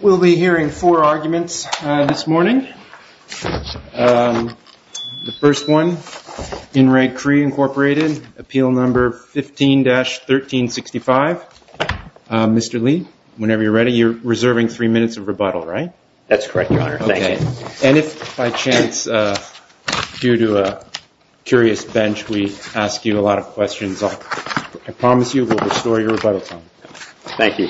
We'll be hearing four arguments this morning. The first one, in Re Cree, Inc., Appeal No. 15-1365. Mr. Lee, whenever you're ready, you're reserving three minutes of rebuttal, right? That's correct, Your Honor. Thank you. And if by chance, due to a curious bench, we ask you a lot of questions, I promise you we'll restore your rebuttal time. Thank you.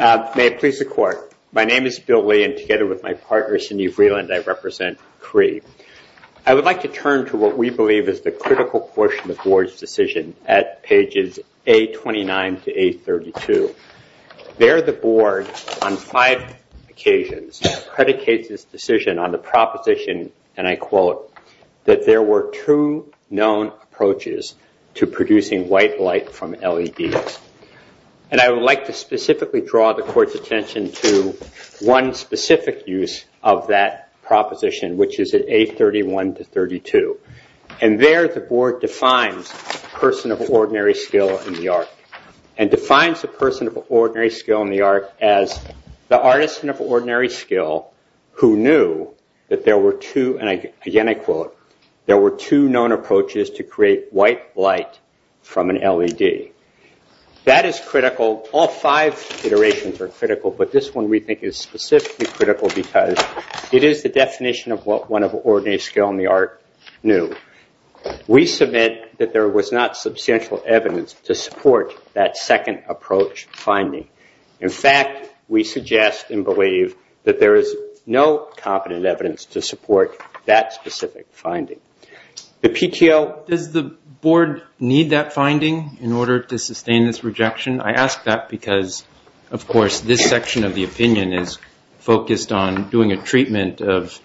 May it please the Court, my name is Bill Lee, and together with my partner, Sinead Vreeland, I represent Re Cree. I would like to turn to what we believe is the critical portion of the Board's decision at pages A29 to A32. There, the Board, on five occasions, predicates this decision on the proposition, and I quote, that there were two known approaches to producing white light from LEDs. And I would like to specifically draw the Court's attention to one specific use of that proposition, which is at A31 to A32. And there, the Board defines a person of ordinary skill in the art, and defines a person of ordinary skill in the art as the artist of ordinary skill who knew that there were two, and again, I quote, there were two known approaches to create white light from an LED. That is critical. All five iterations are critical, but this one, we think, is specifically critical because it is the definition of what one of ordinary skill in the art knew. We submit that there was not substantial evidence to support that second approach finding. In fact, we suggest and believe that there is no competent evidence to support that specific finding. The PTO- Does the Board need that finding in order to sustain this rejection? I ask that because, of course, this section of the opinion is focused on doing a treatment of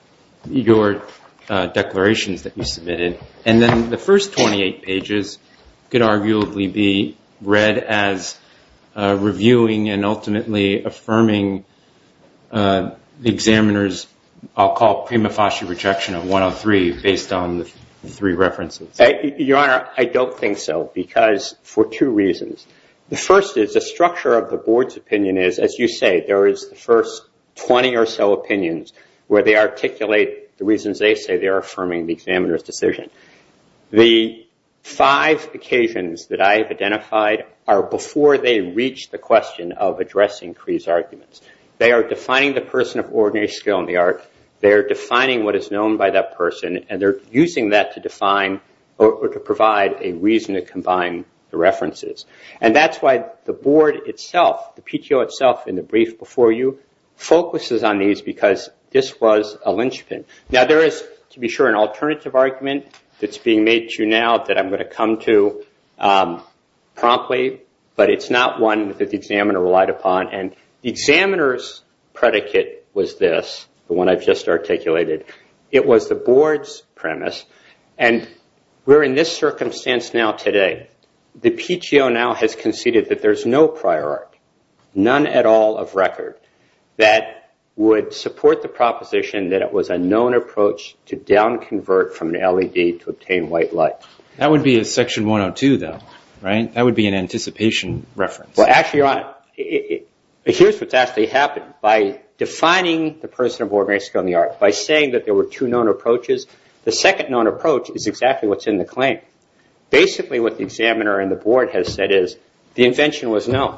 your declarations that you submitted, and then the first 28 pages could arguably be read as reviewing and ultimately affirming the examiner's, I'll call it prima facie rejection of 103, based on the three references. Your Honor, I don't think so, because for two reasons. The first is the structure of the Board's opinion is, as you say, there is the first 20 or so opinions where they articulate the reasons they say they are affirming the examiner's decision. The five occasions that I have identified are before they reach the question of addressing Cree's arguments. They are defining the person of ordinary skill in the art. They are defining what is known by that person, and they are using that to provide a reason to combine the references. That's why the Board itself, the PTO itself in the brief before you, focuses on these because this was a lynchpin. There is, to be sure, an alternative argument that's being made to you now that I'm going to come to promptly, but it's not one that the examiner relied upon. The examiner's predicate was this, the one I've just articulated. It was the Board's premise, and we're in this circumstance now today. The PTO now has conceded that there's no prior art, none at all of record, that would support the proposition that it was a known approach to down-convert from an LED to obtain white light. That would be a Section 102, though, right? That would be an anticipation reference. Well, actually, Your Honor, here's what's actually happened. By defining the person or Board member's skill in the art, by saying that there were two known approaches, the second known approach is exactly what's in the claim. Basically, what the examiner and the Board has said is the invention was known,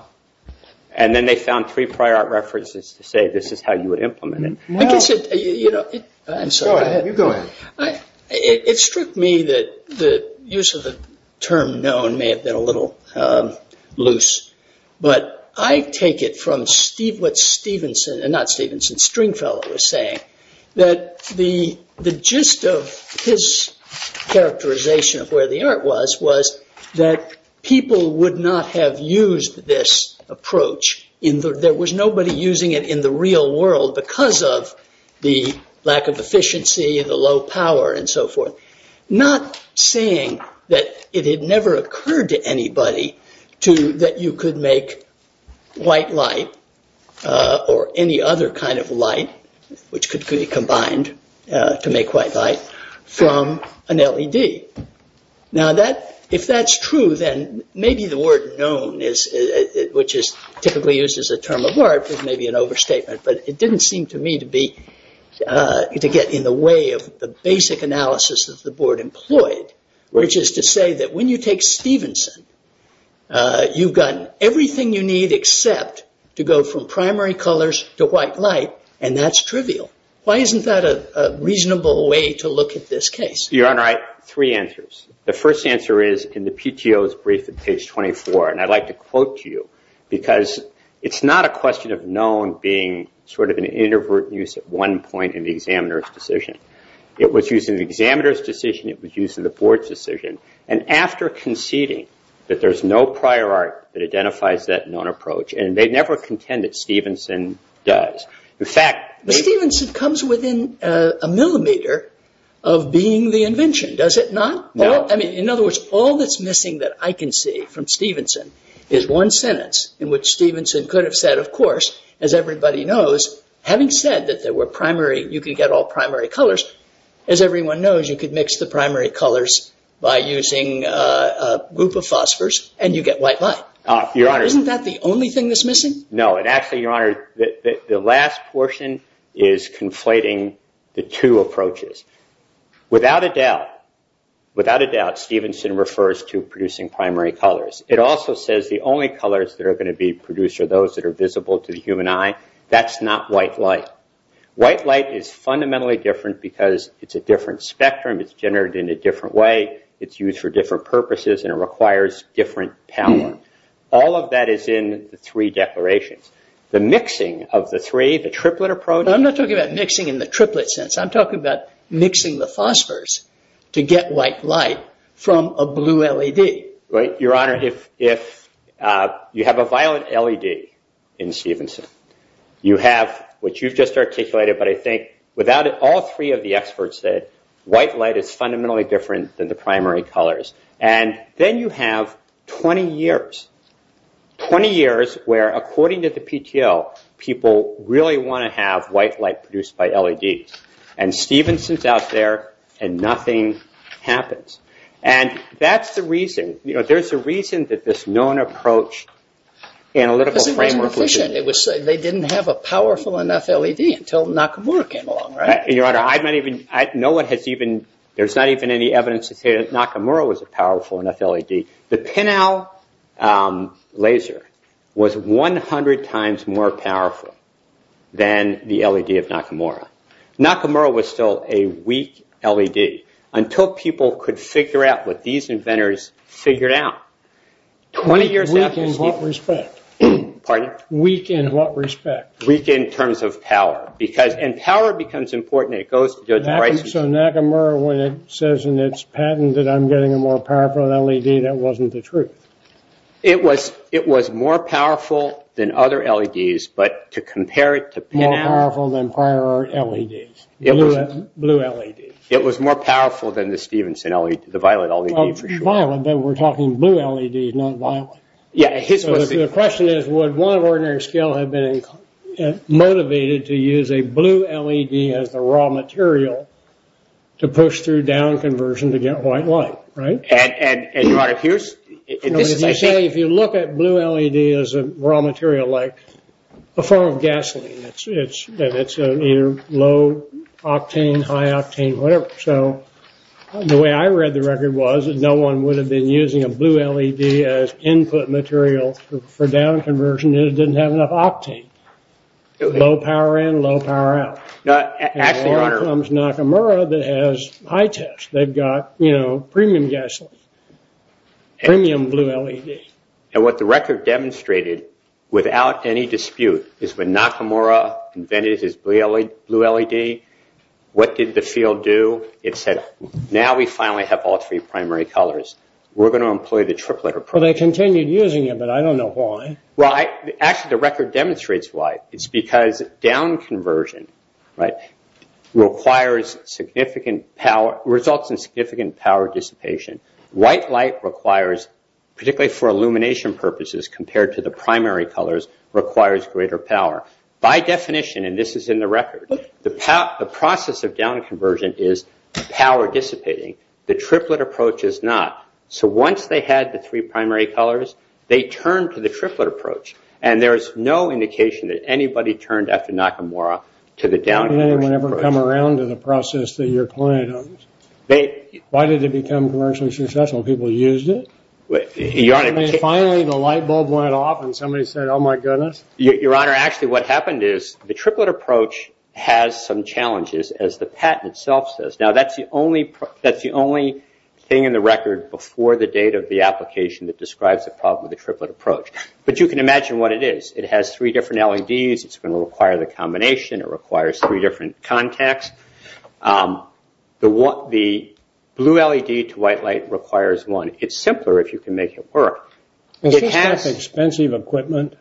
and then they found three prior art references to say this is how you would implement it. I guess, you know, I'm sorry. Go ahead. You go ahead. It struck me that the use of the term known may have been a little loose, but I take it from what Stringfellow was saying, that the gist of his characterization of where the art was, was that people would not have used this approach. There was nobody using it in the real world because of the lack of efficiency, the low power, and so forth. Not saying that it had never occurred to anybody that you could make white light or any other kind of light, which could be combined to make white light, from an LED. Now, if that's true, then maybe the word known, which is typically used as a term of art, is maybe an overstatement, but it didn't seem to me to get in the way of the basic analysis that the Board employed, which is to say that when you take Stevenson, you've got everything you need except to go from primary colors to white light, and that's trivial. Why isn't that a reasonable way to look at this case? Your Honor, I have three answers. The first answer is in the PTO's brief at page 24, and I'd like to quote to you, because it's not a question of known being sort of an introvert use at one point in the examiner's decision. It was used in the examiner's decision, it was used in the Board's decision, and after conceding that there's no prior art that identifies that known approach, and they never contend that Stevenson does. In fact- But Stevenson comes within a millimeter of being the invention, does it not? No. In other words, all that's missing that I can see from Stevenson is one sentence in which Stevenson could have said, of course, as everybody knows, having said that you could get all primary colors, as everyone knows, you could mix the primary colors by using a group of phosphors and you get white light. Isn't that the only thing that's missing? No, and actually, Your Honor, the last portion is conflating the two approaches. Without a doubt, without a doubt, Stevenson refers to producing primary colors. It also says the only colors that are going to be produced are those that are visible to the human eye. That's not white light. White light is fundamentally different because it's a different spectrum, it's generated in a different way, it's used for different purposes, and it requires different power. All of that is in the three declarations. The mixing of the three, the triplet approach- mixing the phosphors to get white light from a blue LED. Your Honor, if you have a violet LED in Stevenson, you have what you've just articulated, but I think without it, all three of the experts said white light is fundamentally different than the primary colors. Then you have 20 years, 20 years where, according to the PTL, people really want to have white light produced by LEDs. And Stevenson's out there and nothing happens. And that's the reason, you know, there's a reason that this known approach, analytical framework- Because it wasn't efficient. They didn't have a powerful enough LED until Nakamura came along, right? Your Honor, I might even- no one has even- there's not even any evidence to say that Nakamura was a powerful enough LED. The Pinnau laser was 100 times more powerful than the LED of Nakamura. Nakamura was still a weak LED until people could figure out what these inventors figured out. Weak in what respect? Pardon? Weak in what respect? Weak in terms of power, because- and power becomes important. So Nakamura, when it says in its patent that I'm getting a more powerful LED, that wasn't the truth. It was more powerful than other LEDs, but to compare it to Pinnau- More powerful than prior LEDs. Blue LEDs. It was more powerful than the Stevenson LED, the violet LED, for sure. Violet, but we're talking blue LEDs, not violet. The question is, would one of ordinary skill have been motivated to use a blue LED as the raw material to push through down conversion to get white light, right? And Your Honor, here's- If you look at blue LED as a raw material, like a form of gasoline, it's either low octane, high octane, whatever. So the way I read the record was that no one would have been using a blue LED as input material for down conversion if it didn't have enough octane. Low power in, low power out. And here comes Nakamura that has high tech. They've got, you know, premium gasoline. Premium blue LED. And what the record demonstrated, without any dispute, is when Nakamura invented his blue LED, what did the field do? It said, now we finally have all three primary colors. We're going to employ the triplet approach. Well, they continued using it, but I don't know why. Well, actually, the record demonstrates why. It's because down conversion requires significant power- results in significant power dissipation. White light requires, particularly for illumination purposes, compared to the primary colors, requires greater power. By definition, and this is in the record, the process of down conversion is power dissipating. The triplet approach is not. So once they had the three primary colors, they turned to the triplet approach. And there is no indication that anybody turned after Nakamura to the down conversion process. Did anyone ever come around to the process that your client owns? Why did it become commercially successful? People used it? I mean, finally the light bulb went off and somebody said, oh, my goodness? Your Honor, actually what happened is the triplet approach has some challenges, as the patent itself says. Now, that's the only thing in the record before the date of the application that describes the problem of the triplet approach. But you can imagine what it is. It has three different LEDs. It's going to require the combination. It requires three different contacts. The blue LED to white light requires one. It's simpler if you can make it work. Is it expensive equipment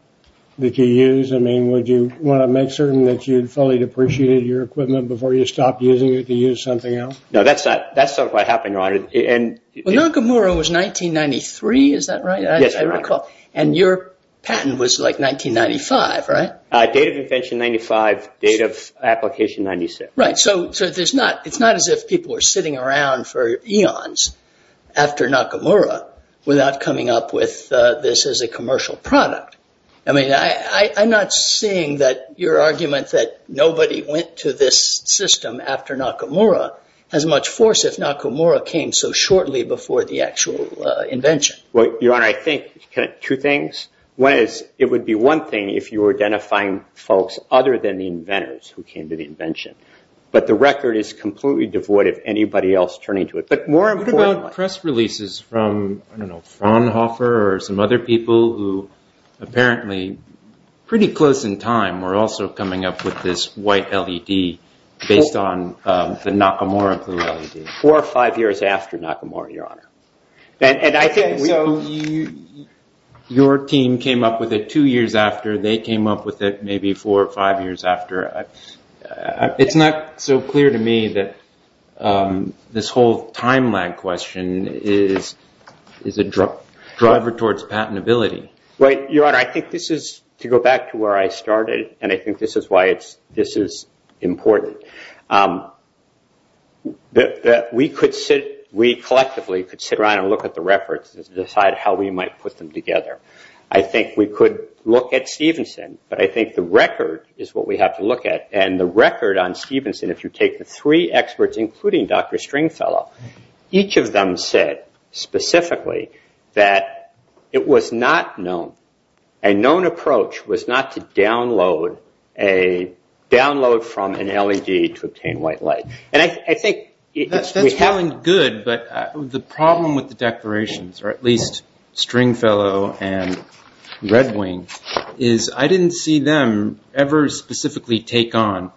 that you use? I mean, would you want to make certain that you'd fully depreciated your equipment before you stopped using it to use something else? No, that's not what happened, Your Honor. Nakamura was 1993, is that right? Yes, that's right. And your patent was like 1995, right? Date of invention, 1995. Date of application, 1996. Right. So it's not as if people were sitting around for eons after Nakamura without coming up with this as a commercial product. I mean, I'm not seeing that your argument that nobody went to this system after Nakamura has much force if Nakamura came so shortly before the actual invention. Well, Your Honor, I think two things. One is it would be one thing if you were identifying folks other than the inventors who came to the invention. But the record is completely devoid of anybody else turning to it. But more importantly— What about press releases from, I don't know, Fraunhofer or some other people who apparently pretty close in time were also coming up with this white LED based on the Nakamura blue LED? Your team came up with it two years after they came up with it maybe four or five years after. It's not so clear to me that this whole time lag question is a driver towards patentability. Right, Your Honor. I think this is, to go back to where I started, and I think this is why this is important. We collectively could sit around and look at the records and decide how we might put them together. I think we could look at Stevenson, but I think the record is what we have to look at. And the record on Stevenson, if you take the three experts including Dr. Stringfellow, each of them said specifically that it was not known. A known approach was not to download from an LED to obtain white light. And I think— That's good, but the problem with the declarations, or at least Stringfellow and Red Wing, is I didn't see them ever specifically take on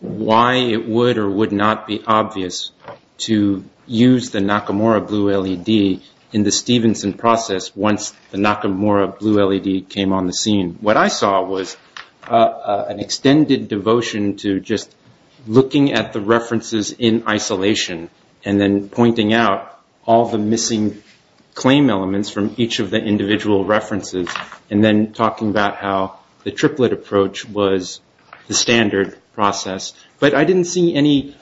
why it would or would not be obvious to use the Nakamura blue LED in the Stevenson process once the Nakamura blue LED came on the scene. What I saw was an extended devotion to just looking at the references in isolation and then pointing out all the missing claim elements from each of the individual references and then talking about how the triplet approach was the standard process. But I didn't see any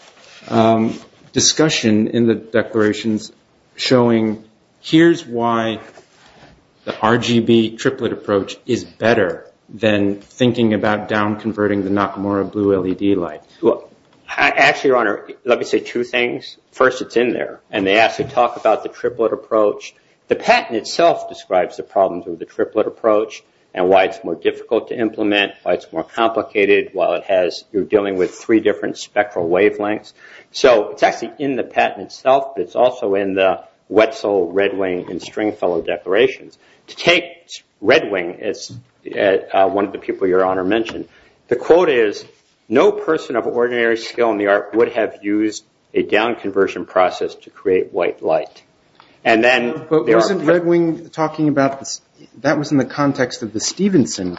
discussion in the declarations showing here's why the RGB triplet approach is better than thinking about down-converting the Nakamura blue LED light. Actually, Your Honor, let me say two things. First, it's in there, and they actually talk about the triplet approach. The patent itself describes the problems with the triplet approach and why it's more difficult to implement, why it's more complicated, while you're dealing with three different spectral wavelengths. So it's actually in the patent itself, but it's also in the Wetzel, Red Wing, and Stringfellow declarations. To take Red Wing, as one of the people Your Honor mentioned, the quote is, no person of ordinary skill in the art would have used a down-conversion process to create white light. But wasn't Red Wing talking about – that was in the context of the Stevenson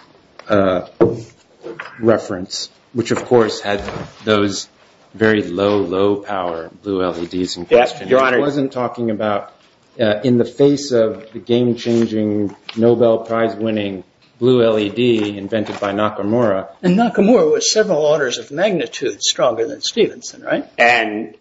reference, which of course had those very low, low power blue LEDs in question. Yes, Your Honor. It wasn't talking about in the face of the game-changing, Nobel Prize winning blue LED invented by Nakamura. And Nakamura was several orders of magnitude stronger than Stevenson, right? And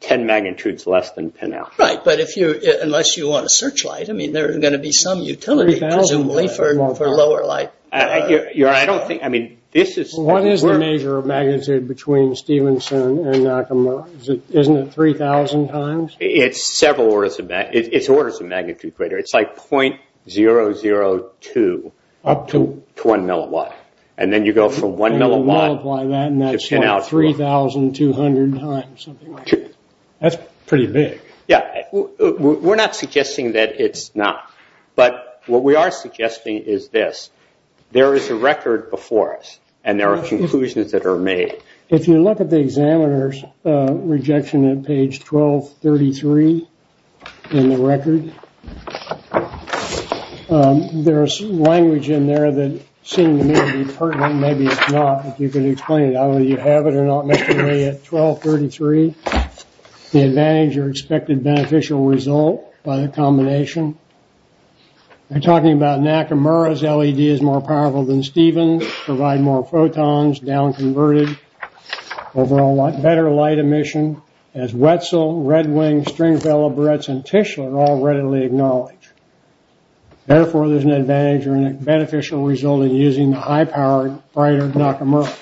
10 magnitudes less than Pinow. Right, but unless you want to search light, I mean, there's going to be some utility, presumably, for lower light. Your Honor, I don't think – I mean, this is – What is the measure of magnitude between Stevenson and Nakamura? Isn't it 3,000 times? It's several orders of – it's orders of magnitude greater. It's like 0.002 to 1 milliwatt. And then you go from 1 milliwatt to Pinow. And that's like 3,200 times, something like that. That's pretty big. Yes. We're not suggesting that it's not. But what we are suggesting is this. There is a record before us, and there are conclusions that are made. If you look at the examiner's rejection at page 1233 in the record, there is language in there that seemed to me to be pertinent. Maybe it's not, but you can explain it. I don't know whether you have it or not, Mr. Lee, at 1233. The advantage, your expected beneficial result by the combination. We're talking about Nakamura's LED is more powerful than Steven's, provide more photons, down-converted, better light emission, as Wetzel, Red Wing, Stringfellow, Buretz, and Tischler all readily acknowledge. Therefore, there's an advantage or a beneficial result in using the high-powered brighter Nakamura.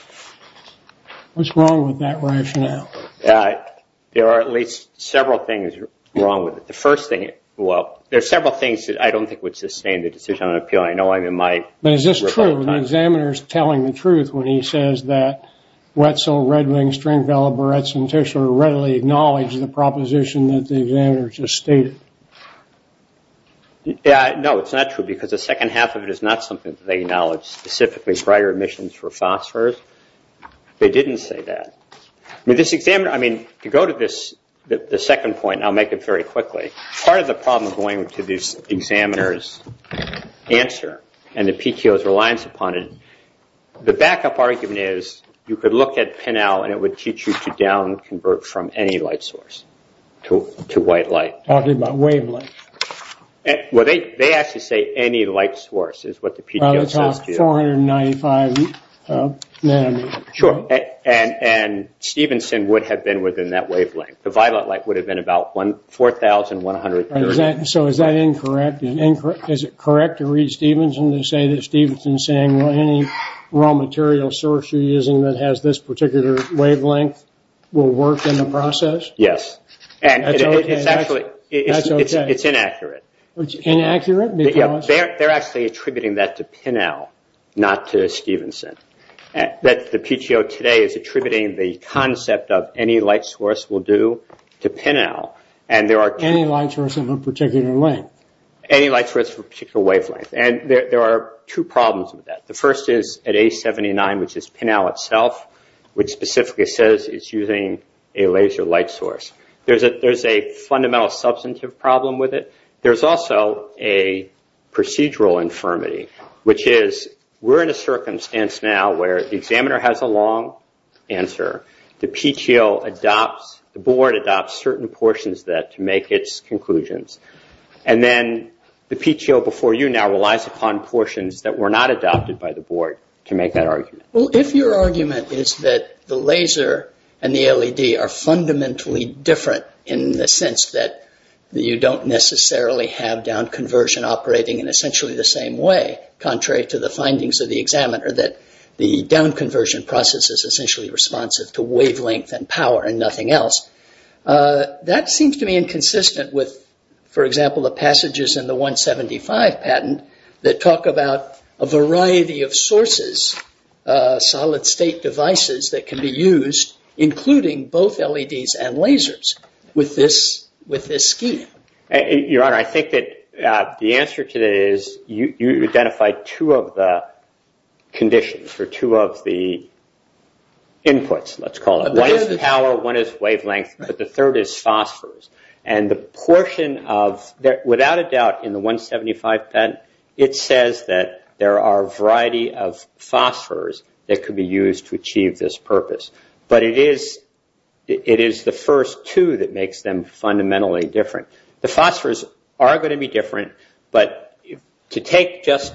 What's wrong with that rationale? There are at least several things wrong with it. The first thing – well, there are several things that I don't think would sustain the decision on an appeal, but is this true, the examiner's telling the truth when he says that Wetzel, Red Wing, Stringfellow, Buretz, and Tischler readily acknowledge the proposition that the examiner just stated? No, it's not true because the second half of it is not something that they acknowledge, specifically brighter emissions for phosphorous. They didn't say that. I mean, to go to the second point, I'll make it very quickly. Part of the problem going to the examiner's answer and the PTO's reliance upon it, the backup argument is you could look at PIN-L and it would teach you to down-convert from any light source to white light. Talking about wavelength. Well, they actually say any light source is what the PTO says to you. About the top 495 nanometers. Sure, and Stevenson would have been within that wavelength. The violet light would have been about 4,100. So is that incorrect? Is it correct to read Stevenson to say that Stevenson is saying any raw material source you're using that has this particular wavelength will work in the process? Yes. That's okay. It's inaccurate. It's inaccurate because? They're actually attributing that to PIN-L, not to Stevenson. The PTO today is attributing the concept of any light source will do to PIN-L. Any light source in a particular wavelength. Any light source for a particular wavelength. There are two problems with that. The first is at A79, which is PIN-L itself, which specifically says it's using a laser light source. There's a fundamental substantive problem with it. There's also a procedural infirmity, which is we're in a circumstance now where the examiner has a long answer. The PTO adopts, the board adopts certain portions of that to make its conclusions. And then the PTO before you now relies upon portions that were not adopted by the board to make that argument. Well, if your argument is that the laser and the LED are fundamentally different in the sense that you don't necessarily have downconversion operating in essentially the same way, contrary to the findings of the examiner, that the downconversion process is essentially responsive to wavelength and power and nothing else, that seems to me inconsistent with, for example, the passages in the 175 patent that talk about a variety of sources, solid state devices that can be used, including both LEDs and lasers with this scheme. Your Honor, I think that the answer to that is you identified two of the conditions or two of the inputs, let's call it. One is power, one is wavelength, but the third is phosphors. And the portion of, without a doubt in the 175 patent, it says that there are a variety of phosphors that could be used to achieve this purpose. But it is the first two that makes them fundamentally different. The phosphors are going to be different, but to take just,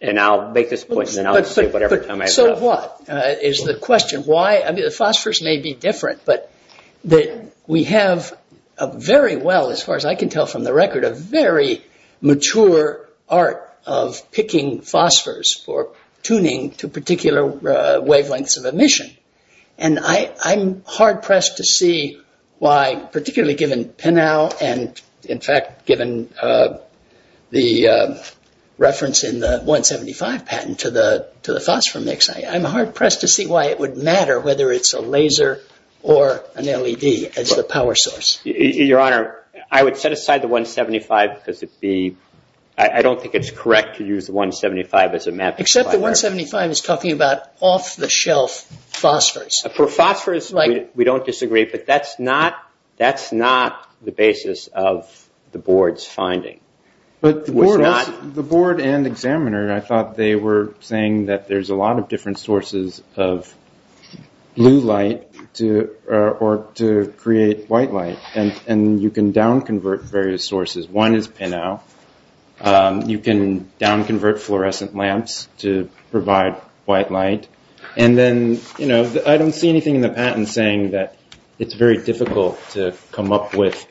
and I'll make this point and then I'll say whatever time I have left. But that's what is the question. The phosphors may be different, but we have a very well, as far as I can tell from the record, a very mature art of picking phosphors for tuning to particular wavelengths of emission. And I'm hard-pressed to see why, particularly given PINAU and, in fact, given the reference in the 175 patent to the phosphor mix, I'm hard-pressed to see why it would matter whether it's a laser or an LED as the power source. Your Honor, I would set aside the 175 because I don't think it's correct to use the 175 as a mapping. Except the 175 is talking about off-the-shelf phosphors. For phosphors, we don't disagree, but that's not the basis of the Board's finding. But the Board and Examiner, I thought they were saying that there's a lot of different sources of blue light or to create white light. And you can down-convert various sources. One is PINAU. You can down-convert fluorescent lamps to provide white light. And then, you know, I don't see anything in the patent saying that it's very difficult to come up with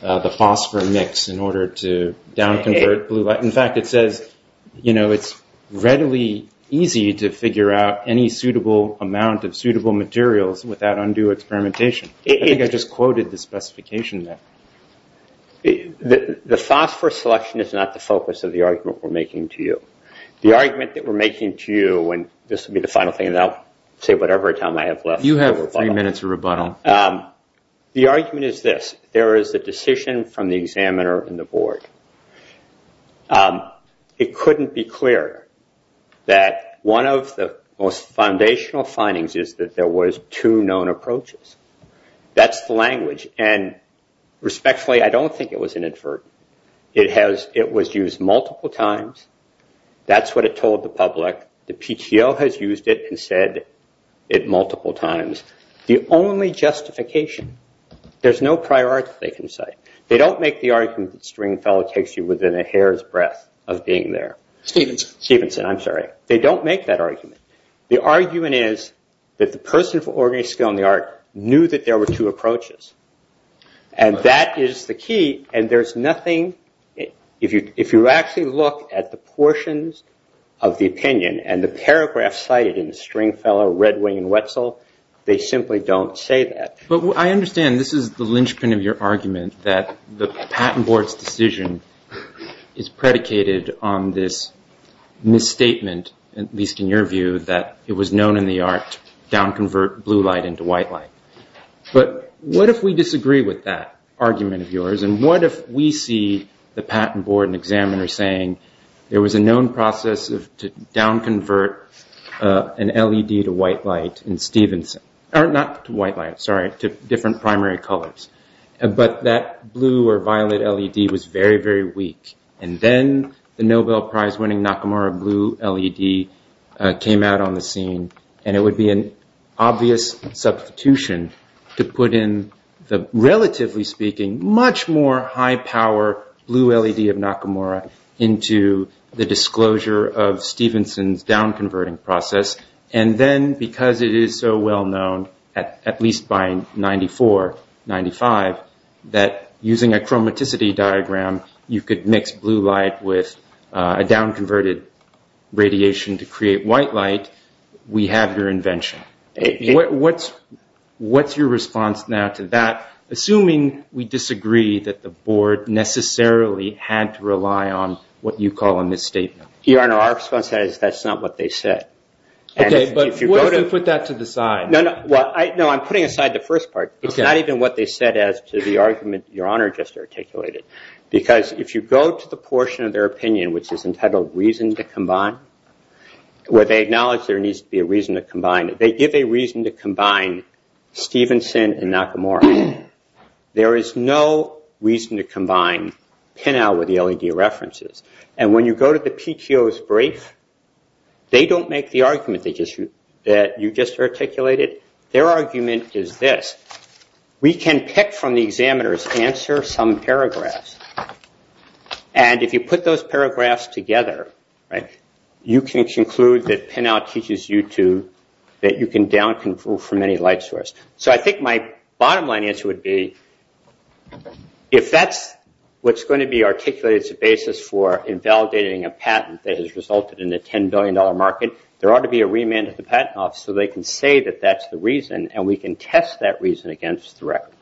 the phosphor mix in order to down-convert blue light. In fact, it says, you know, it's readily easy to figure out any suitable amount of suitable materials without undue experimentation. I think I just quoted the specification there. The phosphor selection is not the focus of the argument we're making to you. The argument that we're making to you, and this will be the final thing, and I'll say whatever time I have left. You have three minutes of rebuttal. The argument is this. It couldn't be clearer that one of the most foundational findings is that there was two known approaches. That's the language. And respectfully, I don't think it was inadvertent. It was used multiple times. That's what it told the public. The PTO has used it and said it multiple times. The only justification, there's no priority, they can say. They don't make the argument that Stringfellow takes you within a hair's breadth of being there. Stevenson. Stevenson, I'm sorry. They don't make that argument. The argument is that the person with organized skill in the art knew that there were two approaches. And that is the key. And there's nothing, if you actually look at the portions of the opinion and the paragraph cited in Stringfellow, Redwing, and Wetzel, they simply don't say that. But I understand this is the linchpin of your argument that the Patent Board's decision is predicated on this misstatement, at least in your view, that it was known in the art to downconvert blue light into white light. But what if we disagree with that argument of yours? And what if we see the Patent Board and examiner saying there was a known process to downconvert an LED to white light in Stevenson. Not to white light, sorry, to different primary colors. But that blue or violet LED was very, very weak. And then the Nobel Prize winning Nakamura blue LED came out on the scene. And it would be an obvious substitution to put in the relatively speaking much more high power blue LED of Nakamura into the disclosure of Stevenson's downconverting process. And then because it is so well known, at least by 94, 95, that using a chromaticity diagram, you could mix blue light with a downconverted radiation to create white light. We have your invention. What's your response now to that, assuming we disagree that the board necessarily had to rely on what you call a misstatement? Your Honor, our response is that's not what they said. Okay, but what if we put that to the side? No, I'm putting aside the first part. It's not even what they said as to the argument Your Honor just articulated. Because if you go to the portion of their opinion which is entitled reason to combine, where they acknowledge there needs to be a reason to combine, they give a reason to combine Stevenson and Nakamura. There is no reason to combine Pinow with the LED references. And when you go to the PTO's brief, they don't make the argument that you just articulated. Their argument is this. We can pick from the examiner's answer some paragraphs. And if you put those paragraphs together, you can conclude that Pinow teaches you that you can downconvert from any light source. So I think my bottom line answer would be if that's what's going to be articulated as a basis for invalidating a patent that has resulted in a $10 billion market, there ought to be a remand at the patent office so they can say that that's the reason and we can test that reason against the record.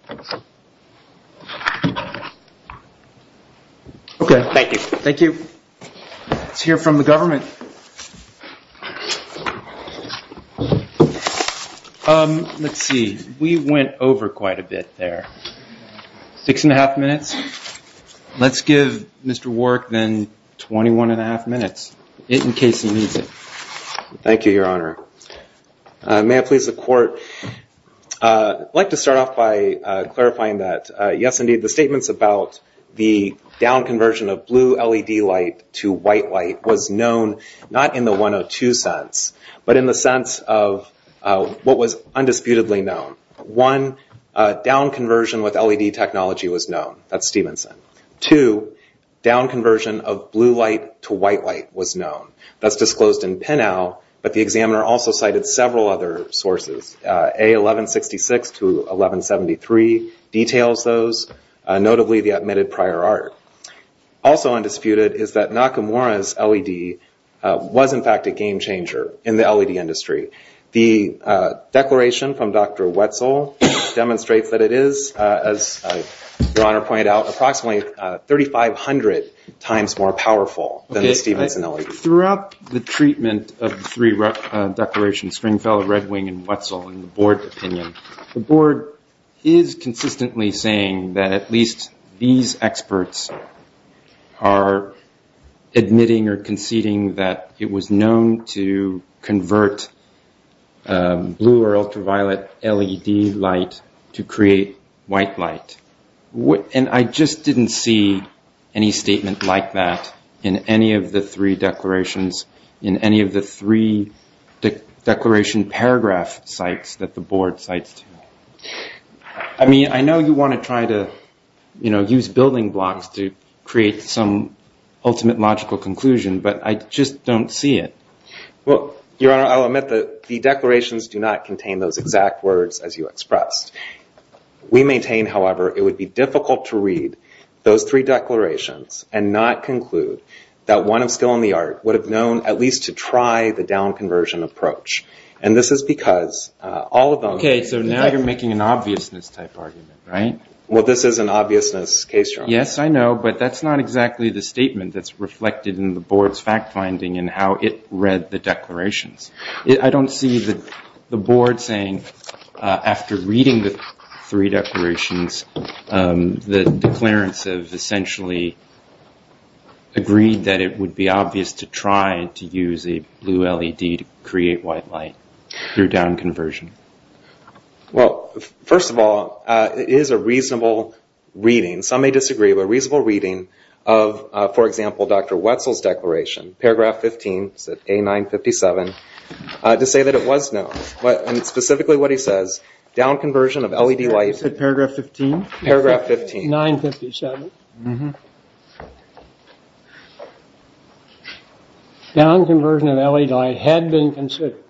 Okay, thank you. Thank you. Let's hear from the government. Let's see. We went over quite a bit there. Six and a half minutes. Let's give Mr. Warrick then 21 and a half minutes in case he needs it. Thank you, Your Honor. May I please the court? I'd like to start off by clarifying that, yes, indeed, the statements about the downconversion of blue LED light to white light was known not in the 102 sense, but in the sense of what was undisputedly known. One, downconversion with LED technology was known. That's Stevenson. Two, downconversion of blue light to white light was known. That's disclosed in PINAU, but the examiner also cited several other sources. A1166 to 1173 details those, notably the admitted prior art. Also undisputed is that Nakamura's LED was, in fact, a game changer in the LED industry. The declaration from Dr. Wetzel demonstrates that it is, as Your Honor pointed out, approximately 3,500 times more powerful than the Stevenson LED. Throughout the treatment of the three declarations, Springfellow, Red Wing, and Wetzel, in the board opinion, the board is consistently saying that at least these experts are admitting or conceding that it was known to convert blue or ultraviolet LED light to create white light. And I just didn't see any statement like that in any of the three declarations, in any of the three declaration paragraph sites that the board cites. I mean, I know you want to try to use building blocks to create some ultimate logical conclusion, but I just don't see it. Well, Your Honor, I'll admit that the declarations do not contain those exact words as you expressed. We maintain, however, it would be difficult to read those three declarations and not conclude that one of skill in the art would have known at least to try the down conversion approach. And this is because all of them- Okay, so now you're making an obviousness type argument, right? Well, this is an obviousness case, Your Honor. Yes, I know, but that's not exactly the statement that's reflected in the board's fact finding and how it read the declarations. I don't see the board saying after reading the three declarations, the declarants have essentially agreed that it would be obvious to try to use a blue LED to create white light through down conversion. Well, first of all, it is a reasonable reading. Some may disagree, but a reasonable reading of, for example, Dr. Wetzel's declaration, paragraph 15, A957, to say that it was known. Specifically what he says, down conversion of LED light- Is that paragraph 15? Paragraph 15. 957. Down conversion of LED light had been considered.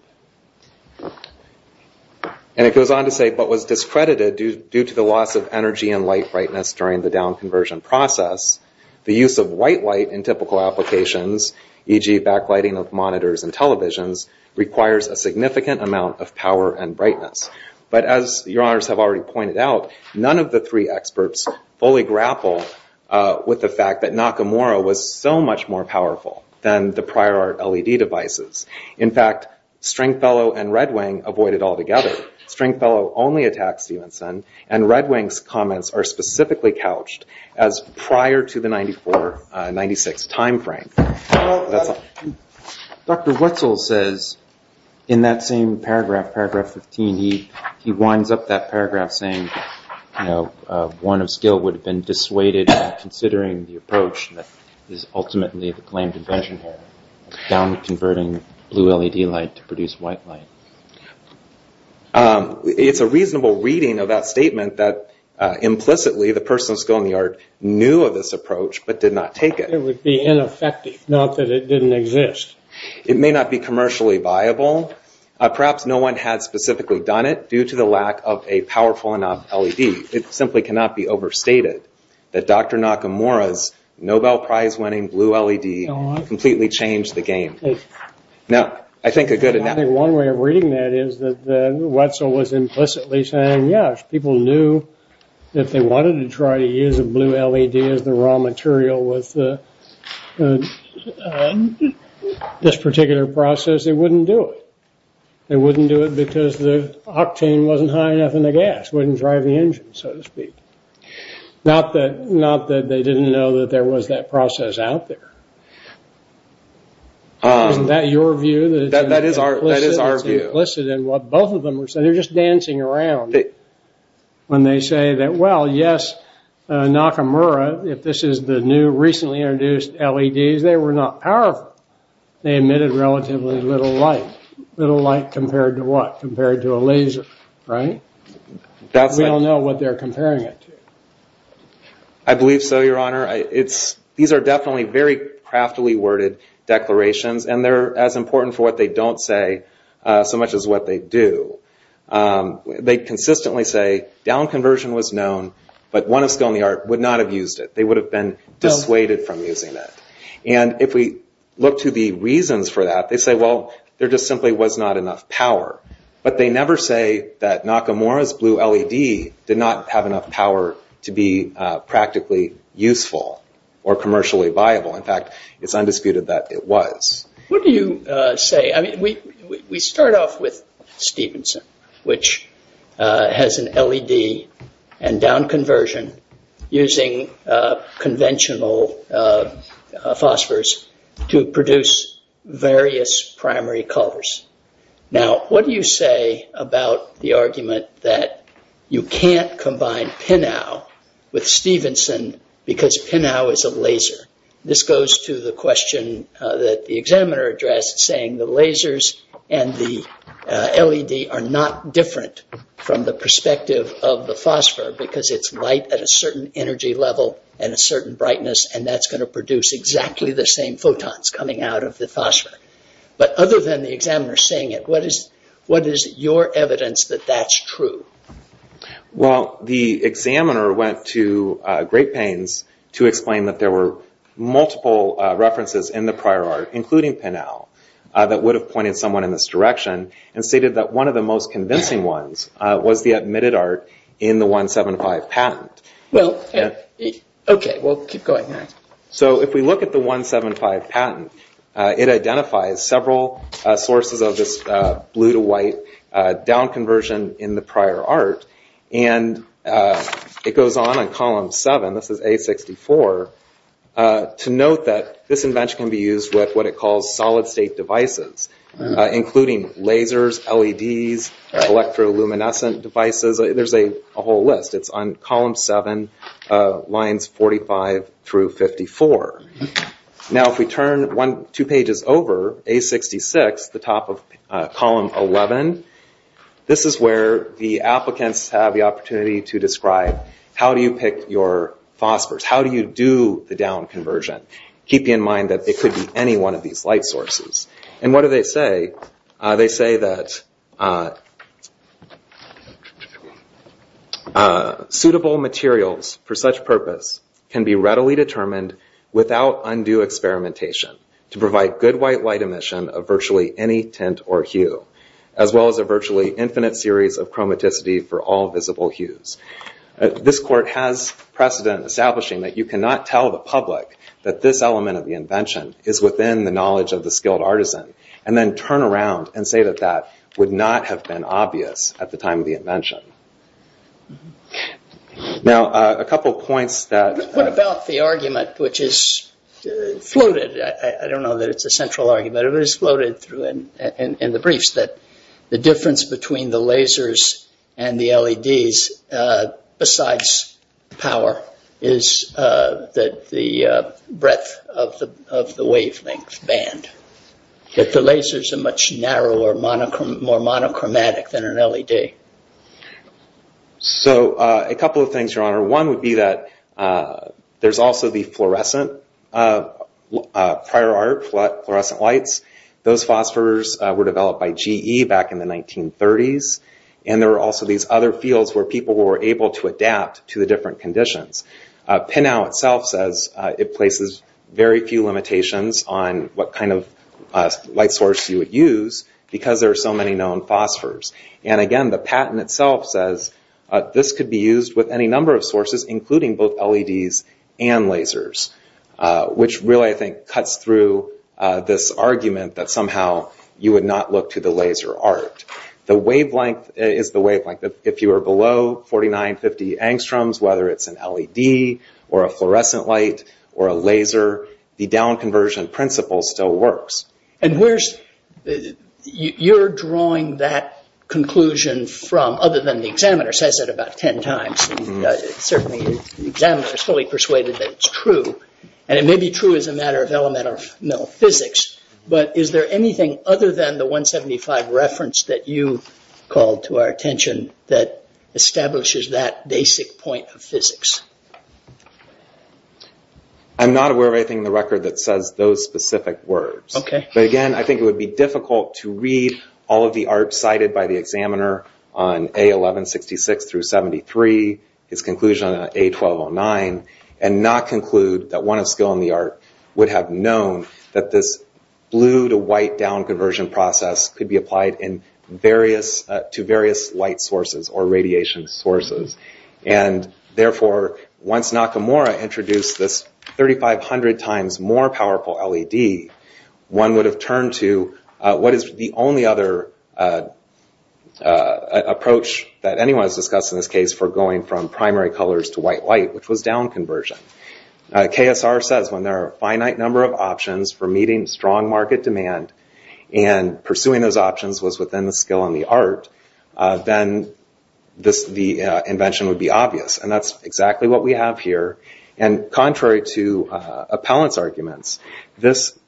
And it goes on to say, but was discredited due to the loss of energy and light brightness during the down conversion process. The use of white light in typical applications, e.g. backlighting of monitors and televisions, requires a significant amount of power and brightness. But as Your Honors have already pointed out, none of the three experts fully grapple with the fact that Nakamura was so much more powerful than the prior art LED devices. In fact, Stringfellow and Red Wing avoid it altogether. Stringfellow only attacks Stevenson, and Red Wing's comments are specifically couched as prior to the 94-96 timeframe. Dr. Wetzel says, in that same paragraph, paragraph 15, he winds up that paragraph saying, one of skill would have been dissuaded in considering the approach that is ultimately the claimed invention here, down converting blue LED light to produce white light. It's a reasonable reading of that statement that implicitly the person of skill in the art knew of this approach but did not take it. It would be ineffective, not that it didn't exist. It may not be commercially viable. Perhaps no one had specifically done it due to the lack of a powerful enough LED. It simply cannot be overstated that Dr. Nakamura's Nobel Prize winning blue LED completely changed the game. Now, I think a good enough... I think one way of reading that is that Wetzel was implicitly saying, yeah, if people knew that they wanted to try to use a blue LED as the raw material with this particular process, they wouldn't do it. They wouldn't do it because the octane wasn't high enough in the gas, wouldn't drive the engine, so to speak. Not that they didn't know that there was that process out there. Isn't that your view? That is our view. It's implicit in what both of them were saying. They're just dancing around when they say that, well, yes, Nakamura, if this is the new recently introduced LEDs, they were not powerful. They emitted relatively little light. Little light compared to what? Compared to a laser, right? We don't know what they're comparing it to. I believe so, Your Honor. These are definitely very craftily worded declarations, and they're as important for what they don't say so much as what they do. They consistently say down conversion was known, but one of skill in the art would not have used it. They would have been dissuaded from using that. If we look to the reasons for that, they say, well, there just simply was not enough power. But they never say that Nakamura's blue LED did not have enough power to be practically useful or commercially viable. In fact, it's undisputed that it was. What do you say? I mean, we start off with Stevenson, which has an LED and down conversion using conventional phosphors to produce various primary colors. Now, what do you say about the argument that you can't combine PINAU with Stevenson because PINAU is a laser? This goes to the question that the examiner addressed saying the lasers and the LED are not different from the perspective of the phosphor because it's light at a certain energy level and a certain brightness, and that's going to produce exactly the same photons coming out of the phosphor. But other than the examiner saying it, what is your evidence that that's true? Well, the examiner went to great pains to explain that there were multiple references in the prior art, including PINAU, that would have pointed someone in this direction and stated that one of the most convincing ones was the admitted art in the 175 patent. Well, okay, we'll keep going. So if we look at the 175 patent, it identifies several sources of this blue-to-white down conversion in the prior art, and it goes on in column 7, this is A64, to note that this invention can be used with what it calls solid-state devices, including lasers, LEDs, electroluminescent devices. There's a whole list. It's on column 7, lines 45 through 54. Now if we turn two pages over, A66, the top of column 11, this is where the applicants have the opportunity to describe how do you pick your phosphors, how do you do the down conversion, keeping in mind that it could be any one of these light sources. And what do they say? They say that suitable materials for such purpose can be readily determined without undue experimentation to provide good white light emission of virtually any tint or hue, as well as a virtually infinite series of chromaticity for all visible hues. This court has precedent establishing that you cannot tell the public that this element of the invention is within the knowledge of the skilled artisan, and then turn around and say that that would not have been obvious at the time of the invention. Now a couple of points that... What about the argument which is floated? I don't know that it's a central argument, but it was floated in the briefs that the difference between the lasers and the LEDs, besides power, is that the breadth of the wavelength band. That the lasers are much narrower, more monochromatic than an LED. So a couple of things, Your Honor. One would be that there's also the fluorescent prior art, fluorescent lights. Those phosphors were developed by GE back in the 1930s. And there are also these other fields where people were able to adapt to the different conditions. PINAU itself says it places very few limitations on what kind of light source you would use, because there are so many known phosphors. And again, the patent itself says this could be used with any number of sources, including both LEDs and lasers. Which really, I think, cuts through this argument that somehow you would not look to the laser art. The wavelength is the wavelength. If you are below 4950 angstroms, whether it's an LED or a fluorescent light or a laser, the down-conversion principle still works. And where's... You're drawing that conclusion from, other than the examiner says it about 10 times. Certainly the examiner is fully persuaded that it's true. And it may be true as a matter of elemental physics, but is there anything other than the 175 reference that you called to our attention that establishes that basic point of physics? I'm not aware of anything in the record that says those specific words. But again, I think it would be difficult to read all of the art cited by the examiner on A1166-73, his conclusion on A1209, and not conclude that one of skill in the art would have known that this blue-to-white down-conversion process could be applied to various light sources or radiation sources. And therefore, once Nakamura introduced this 3500 times more powerful LED, one would have turned to what is the only other approach that anyone has discussed in this case for going from primary colors to white-white, which was down-conversion. KSR says when there are a finite number of options for meeting strong market demand and pursuing those options was within the skill and the art, then the invention would be obvious. And that's exactly what we have here. And contrary to Appellant's arguments, this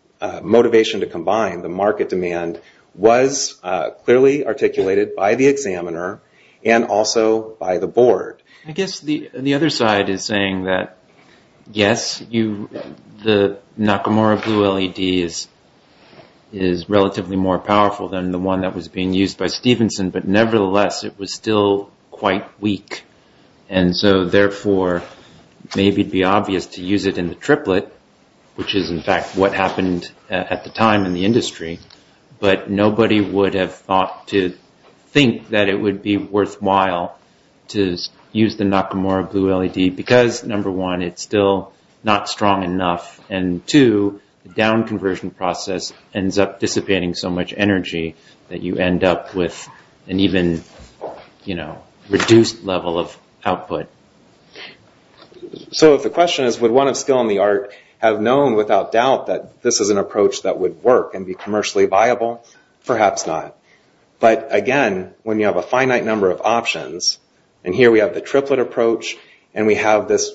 motivation to combine the market demand was clearly articulated by the examiner and also by the board. I guess the other side is saying that yes, the Nakamura blue LED is relatively more powerful than the one that was being used by Stevenson, but nevertheless, it was still quite weak. And so therefore, maybe it would be obvious to use it in the triplet, which is in fact what happened at the time in the industry, but nobody would have thought to think that it would be worthwhile to use the Nakamura blue LED because number one, it's still not strong enough, and two, the down-conversion process ends up dissipating so much energy that you end up with an even reduced level of output. So if the question is would one of skill and the art have known without doubt that this is an approach that would work and be commercially viable, perhaps not. And here we have the triplet approach, and we have this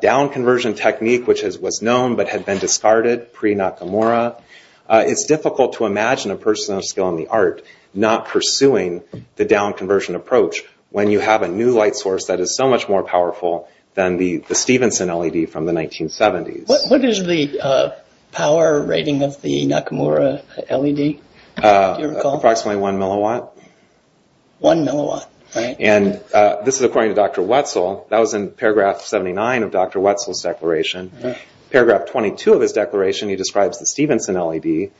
down-conversion technique, which was known but had been discarded pre-Nakamura. It's difficult to imagine a person of skill and the art not pursuing the down-conversion approach when you have a new light source that is so much more powerful than the Stevenson LED from the 1970s. What is the power rating of the Nakamura LED? Approximately one milliwatt. One milliwatt, right. And this is according to Dr. Wetzel. That was in paragraph 79 of Dr. Wetzel's declaration. Paragraph 22 of his declaration, he describes the Stevenson LED,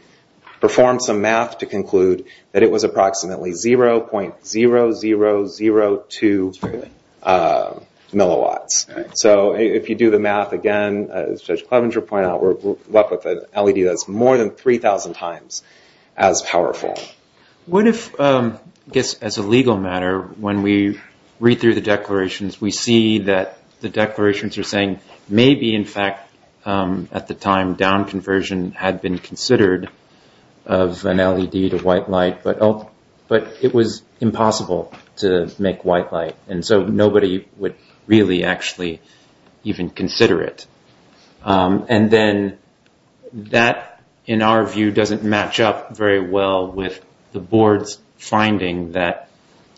performed some math to conclude that it was approximately 0.0002 milliwatts. So if you do the math again, as Judge Clevenger pointed out, we're left with an LED that's more than 3,000 times as powerful. What if, I guess as a legal matter, when we read through the declarations, we see that the declarations are saying maybe, in fact, at the time, down-conversion had been considered of an LED to white light, but it was impossible to make white light. And so nobody would really actually even consider it. And then that, in our view, doesn't match up very well with the Board's finding that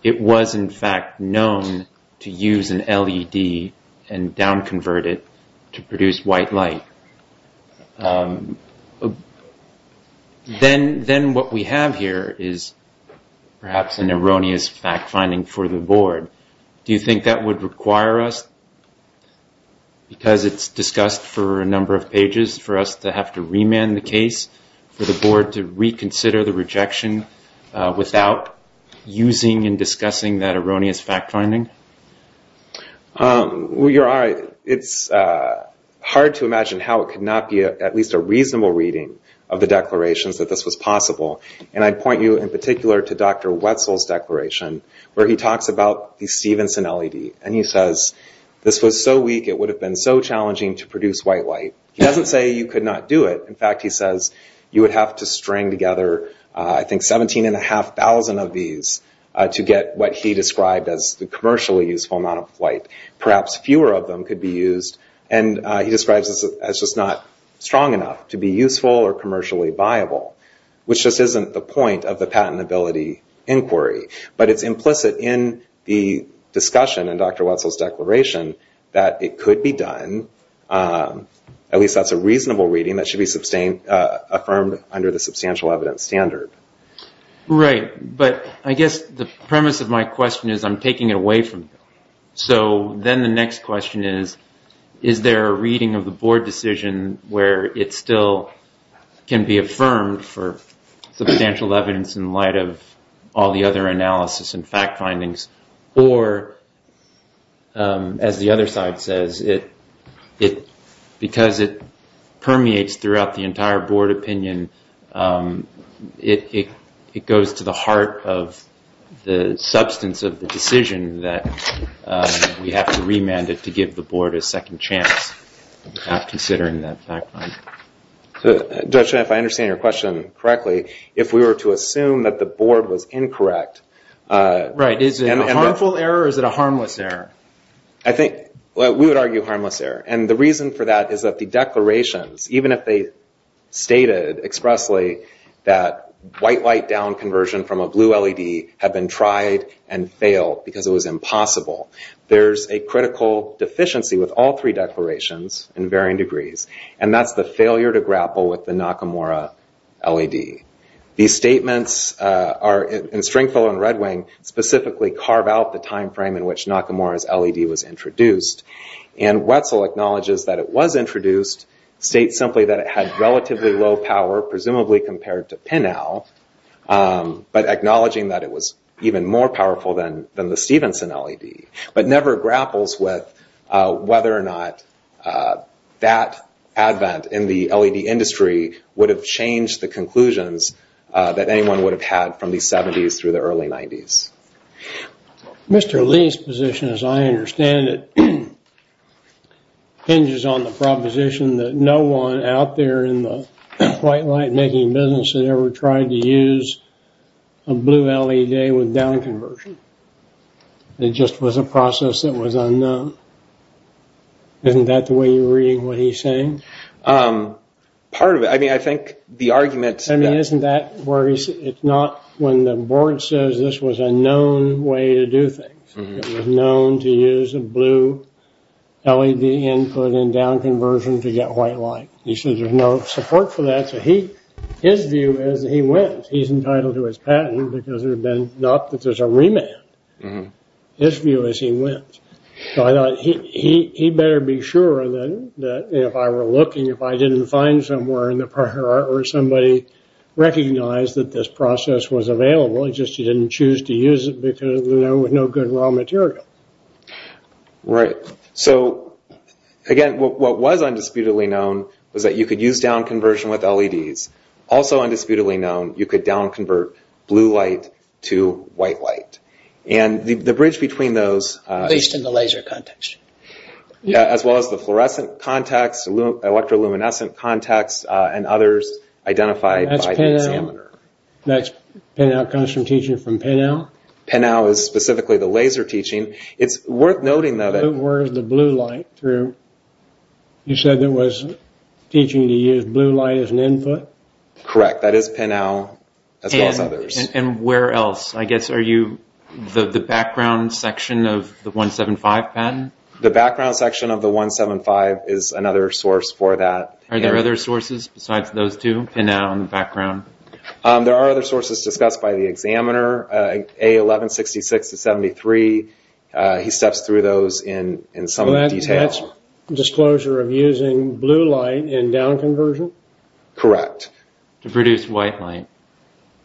it was, in fact, known to use an LED and down-convert it to produce white light. Then what we have here is perhaps an erroneous fact-finding for the Board. Do you think that would require us, because it's discussed for a number of pages, for us to have to remand the case for the Board to reconsider the rejection without using and discussing that erroneous fact-finding? You're right. It's hard to imagine how it could not be at least a reasonable reading of the declarations that this was possible. And I'd point you in particular to Dr. Wetzel's declaration, where he talks about the Stevenson LED. And he says, this was so weak, it would have been so challenging to produce white light. He doesn't say you could not do it. In fact, he says you would have to string together, I think, 17,500 of these to get what he described as the commercially useful amount of light. Perhaps fewer of them could be used. And he describes this as just not strong enough to be useful or commercially viable, which just isn't the point of the patentability inquiry. But it's implicit in the discussion in Dr. Wetzel's declaration that it could be done, at least that's a reasonable reading that should be affirmed under the substantial evidence standard. Right. But I guess the premise of my question is I'm taking it away from you. So then the next question is, is there a reading of the Board decision where it still can be affirmed for substantial evidence in light of all the other analysis and fact findings? Or, as the other side says, because it permeates throughout the entire Board opinion, it goes to the heart of the substance of the decision that we have to remand it to give the Board a second chance at considering that fact finding. Judge Smith, I understand your question correctly. If we were to assume that the Board was incorrect... Right. Is it a harmful error or is it a harmless error? I think we would argue harmless error. And the reason for that is that the declarations, even if they stated expressly that white light down conversion from a blue LED had been tried and failed because it was impossible, there's a critical deficiency with all three declarations in varying degrees, and that's the failure to grapple with the Nakamura LED. These statements in Stringfellow and Red Wing specifically carve out the time frame in which Nakamura's LED was introduced. And Wetzel acknowledges that it was introduced, states simply that it had relatively low power, presumably compared to Pinnell, but acknowledging that it was even more powerful than the Stevenson LED, but never grapples with whether or not that advent in the LED industry would have changed the conclusions that anyone would have had from the 70s through the early 90s. Mr. Lee's position, as I understand it, hinges on the proposition that no one out there in the white light-making business had ever tried to use a blue LED with down conversion. It just was a process that was unknown. Isn't that the way you're reading what he's saying? Part of it. I mean, I think the arguments that – I mean, isn't that where he's – it's not when the board says this was a known way to do things. It was known to use a blue LED input in down conversion to get white light. He says there's no support for that. So his view is that he wins. He's entitled to his patent because there's been – not that there's a remand. His view is he wins. So I thought he better be sure that if I were looking, if I didn't find somewhere in the prior art where somebody recognized that this process was available, it's just he didn't choose to use it because there was no good raw material. Right. So, again, what was undisputedly known was that you could use down conversion with LEDs. Also undisputedly known, you could down convert blue light to white light. And the bridge between those – At least in the laser context. Yeah, as well as the fluorescent context, electroluminescent context, and others identified by the examiner. That's PINAU. PINAU comes from teaching from PINAU. PINAU? PINAU is specifically the laser teaching. It's worth noting, though, that – Where is the blue light through? You said there was teaching to use blue light as an input? Correct. That is PINAU, as well as others. And where else? I guess are you – the background section of the 175 patent? The background section of the 175 is another source for that. Are there other sources besides those two, PINAU and background? There are other sources discussed by the examiner, A1166-73. He steps through those in some detail. That's disclosure of using blue light in down conversion? Correct. To produce white light.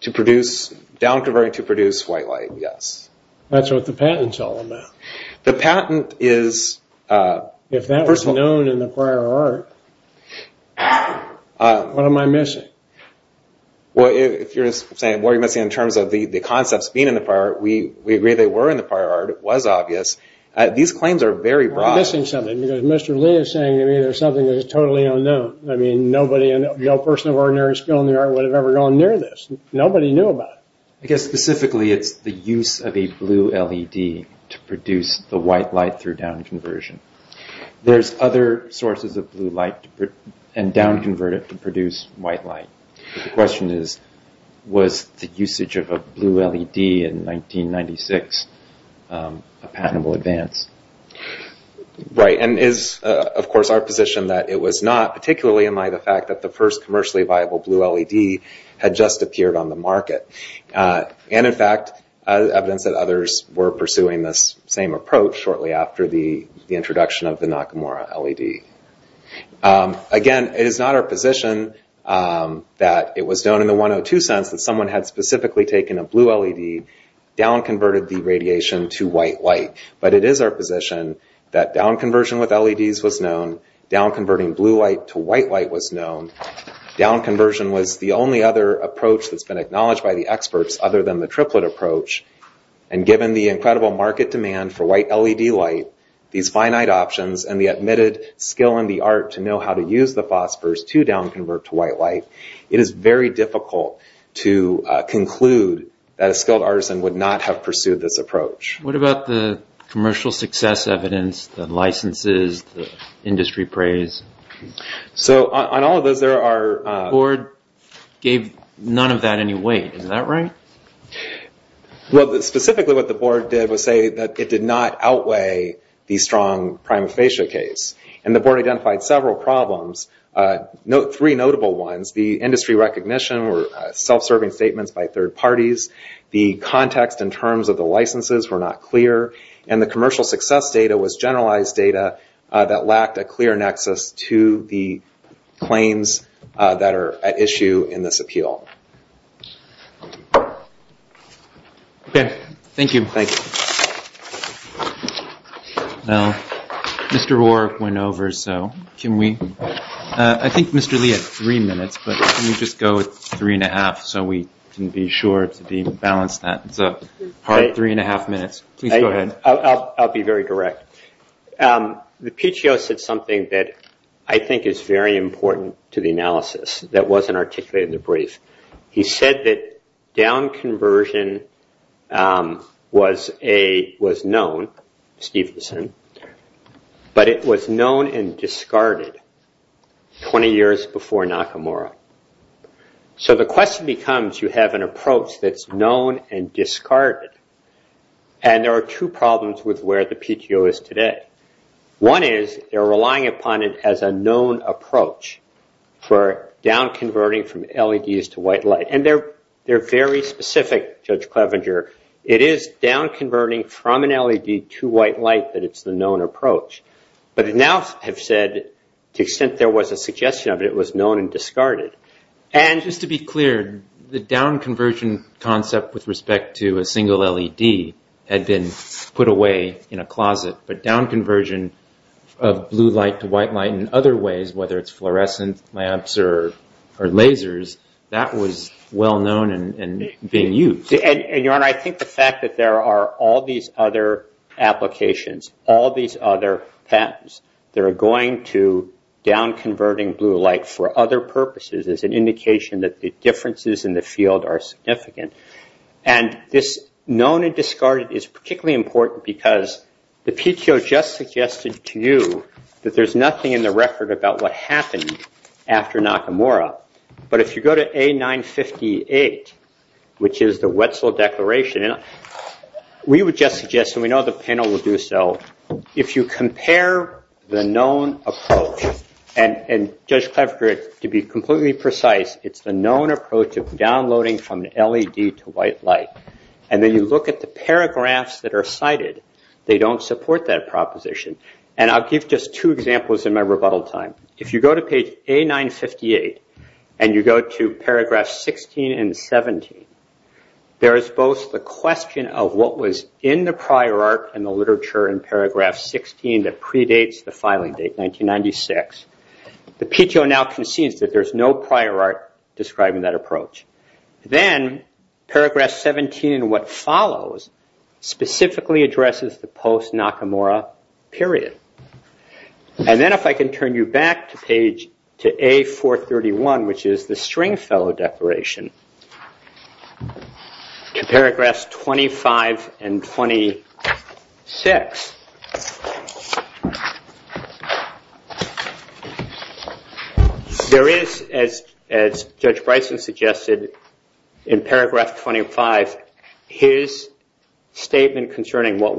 To produce – down conversion to produce white light, yes. That's what the patent's all about. The patent is – If that was known in the prior art, what am I missing? Well, if you're saying what are you missing in terms of the concepts being in the prior art, we agree they were in the prior art. It was obvious. These claims are very broad. We're missing something, because Mr. Lee is saying, I mean, there's something that is totally unknown. I mean, nobody – no person of ordinary skill in the art would have ever gone near this. Nobody knew about it. I guess specifically it's the use of a blue LED to produce the white light through down conversion. There's other sources of blue light and down convert it to produce white light. The question is, was the usage of a blue LED in 1996 a patentable advance? And it's, of course, our position that it was not, particularly in light of the fact that the first commercially viable blue LED had just appeared on the market. And, in fact, evidence that others were pursuing this same approach shortly after the introduction of the Nakamura LED. Again, it is not our position that it was known in the 102 sense that someone had specifically taken a blue LED, down converted the radiation to white light. But it is our position that down conversion with LEDs was known. Down converting blue light to white light was known. Down conversion was the only other approach that's been acknowledged by the experts other than the triplet approach. And given the incredible market demand for white LED light, these finite options, and the admitted skill in the art to know how to use the phosphors to down convert to white light, it is very difficult to conclude that a skilled artisan would not have pursued this approach. What about the commercial success evidence, the licenses, the industry praise? So, on all of those there are... The board gave none of that any weight. Is that right? Well, specifically what the board did was say that it did not outweigh the strong prima facie case. And the board identified several problems, three notable ones. The industry recognition were self-serving statements by third parties. The context in terms of the licenses were not clear. And the commercial success data was generalized data that lacked a clear nexus to the claims that are at issue in this appeal. Okay. Thank you. Thank you. Now, Mr. Roark went over, so can we... I think Mr. Lee had three minutes, but can we just go with three and a half so we can be sure to balance that? It's a hard three and a half minutes. Please go ahead. I'll be very direct. The PTO said something that I think is very important to the analysis that wasn't articulated in the brief. He said that down conversion was known, Stevenson, but it was known and discarded 20 years before Nakamura. So the question becomes, you have an approach that's known and discarded. And there are two problems with where the PTO is today. One is they're relying upon it as a known approach for down converting from LEDs to white light. And they're very specific, Judge Clevenger. It is down converting from an LED to white light that it's the known approach. But they now have said, to the extent there was a suggestion of it, it was known and discarded. And... Just to be clear, the down conversion concept with respect to a single LED had been put away in a closet. But down conversion of blue light to white light in other ways, whether it's fluorescent lamps or lasers, that was well known and being used. And, Your Honor, I think the fact that there are all these other applications, all these other patents, that are going to down converting blue light for other purposes is an indication that the differences in the field are significant. And this known and discarded is particularly important because the PTO just suggested to you that there's nothing in the record about what happened after Nakamura. But if you go to A958, which is the Wetzel Declaration, we would just suggest, and we know the panel will do so, if you compare the known approach, and Judge Clevenger, to be completely precise, it's the known approach of downloading from an LED to white light. And then you look at the paragraphs that are cited. They don't support that proposition. And I'll give just two examples in my rebuttal time. If you go to page A958 and you go to paragraphs 16 and 17, there is both the question of what was in the prior art and the literature in paragraph 16 that predates the filing date, 1996. The PTO now concedes that there's no prior art describing that approach. Then paragraph 17 and what follows specifically addresses the post-Nakamura period. And then if I can turn you back to page to A431, which is the Stringfellow Declaration, to paragraphs 25 and 26. There is, as Judge Bryson suggested, in paragraph 25, his statement concerning what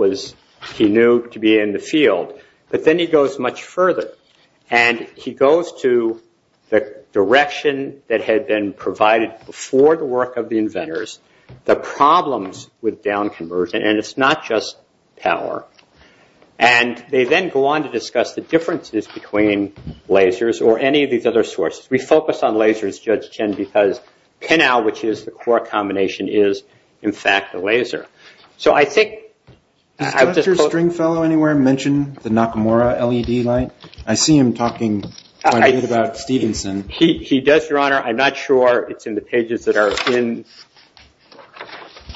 he knew to be in the field. But then he goes much further. And he goes to the direction that had been provided before the work of the inventors, the problems with down conversion. And it's not just power. And they then go on to discuss the differences between lasers or any of these other sources. We focus on lasers, Judge Chen, because PINAU, which is the core combination, is, in fact, a laser. So I think – Did Dr. Stringfellow anywhere mention the Nakamura LED light? I see him talking quite a bit about Stevenson. He does, Your Honor. I'm not sure it's in the pages that are in –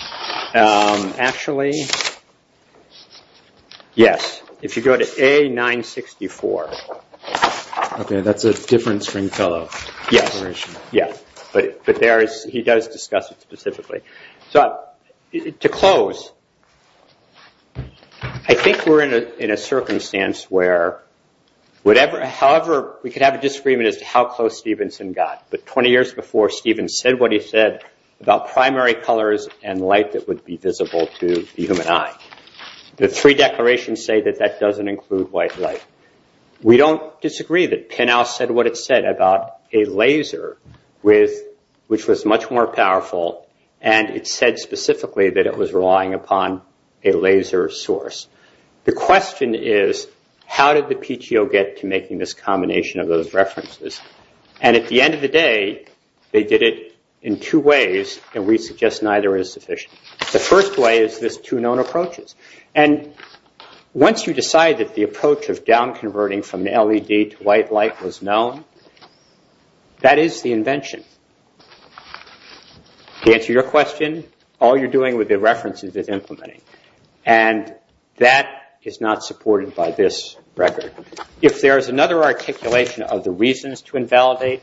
actually, yes. If you go to A964. Okay. That's a different Stringfellow Declaration. Yes. Yes. But he does discuss it specifically. To close, I think we're in a circumstance where – however, we could have a disagreement as to how close Stevenson got. But 20 years before, Steven said what he said about primary colors and light that would be visible to the human eye. The three declarations say that that doesn't include white light. We don't disagree that PINAU said what it said about a laser which was much more powerful and it said specifically that it was relying upon a laser source. The question is, how did the PTO get to making this combination of those references? And at the end of the day, they did it in two ways, and we suggest neither is sufficient. The first way is this two known approaches. And once you decide that the approach of down converting from LED to white light was known, that is the invention. To answer your question, all you're doing with the references is implementing. And that is not supported by this record. If there is another articulation of the reasons to invalidate,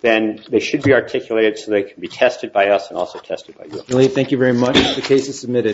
then they should be articulated so they can be tested by us and also tested by you. Thank you very much. The case is submitted.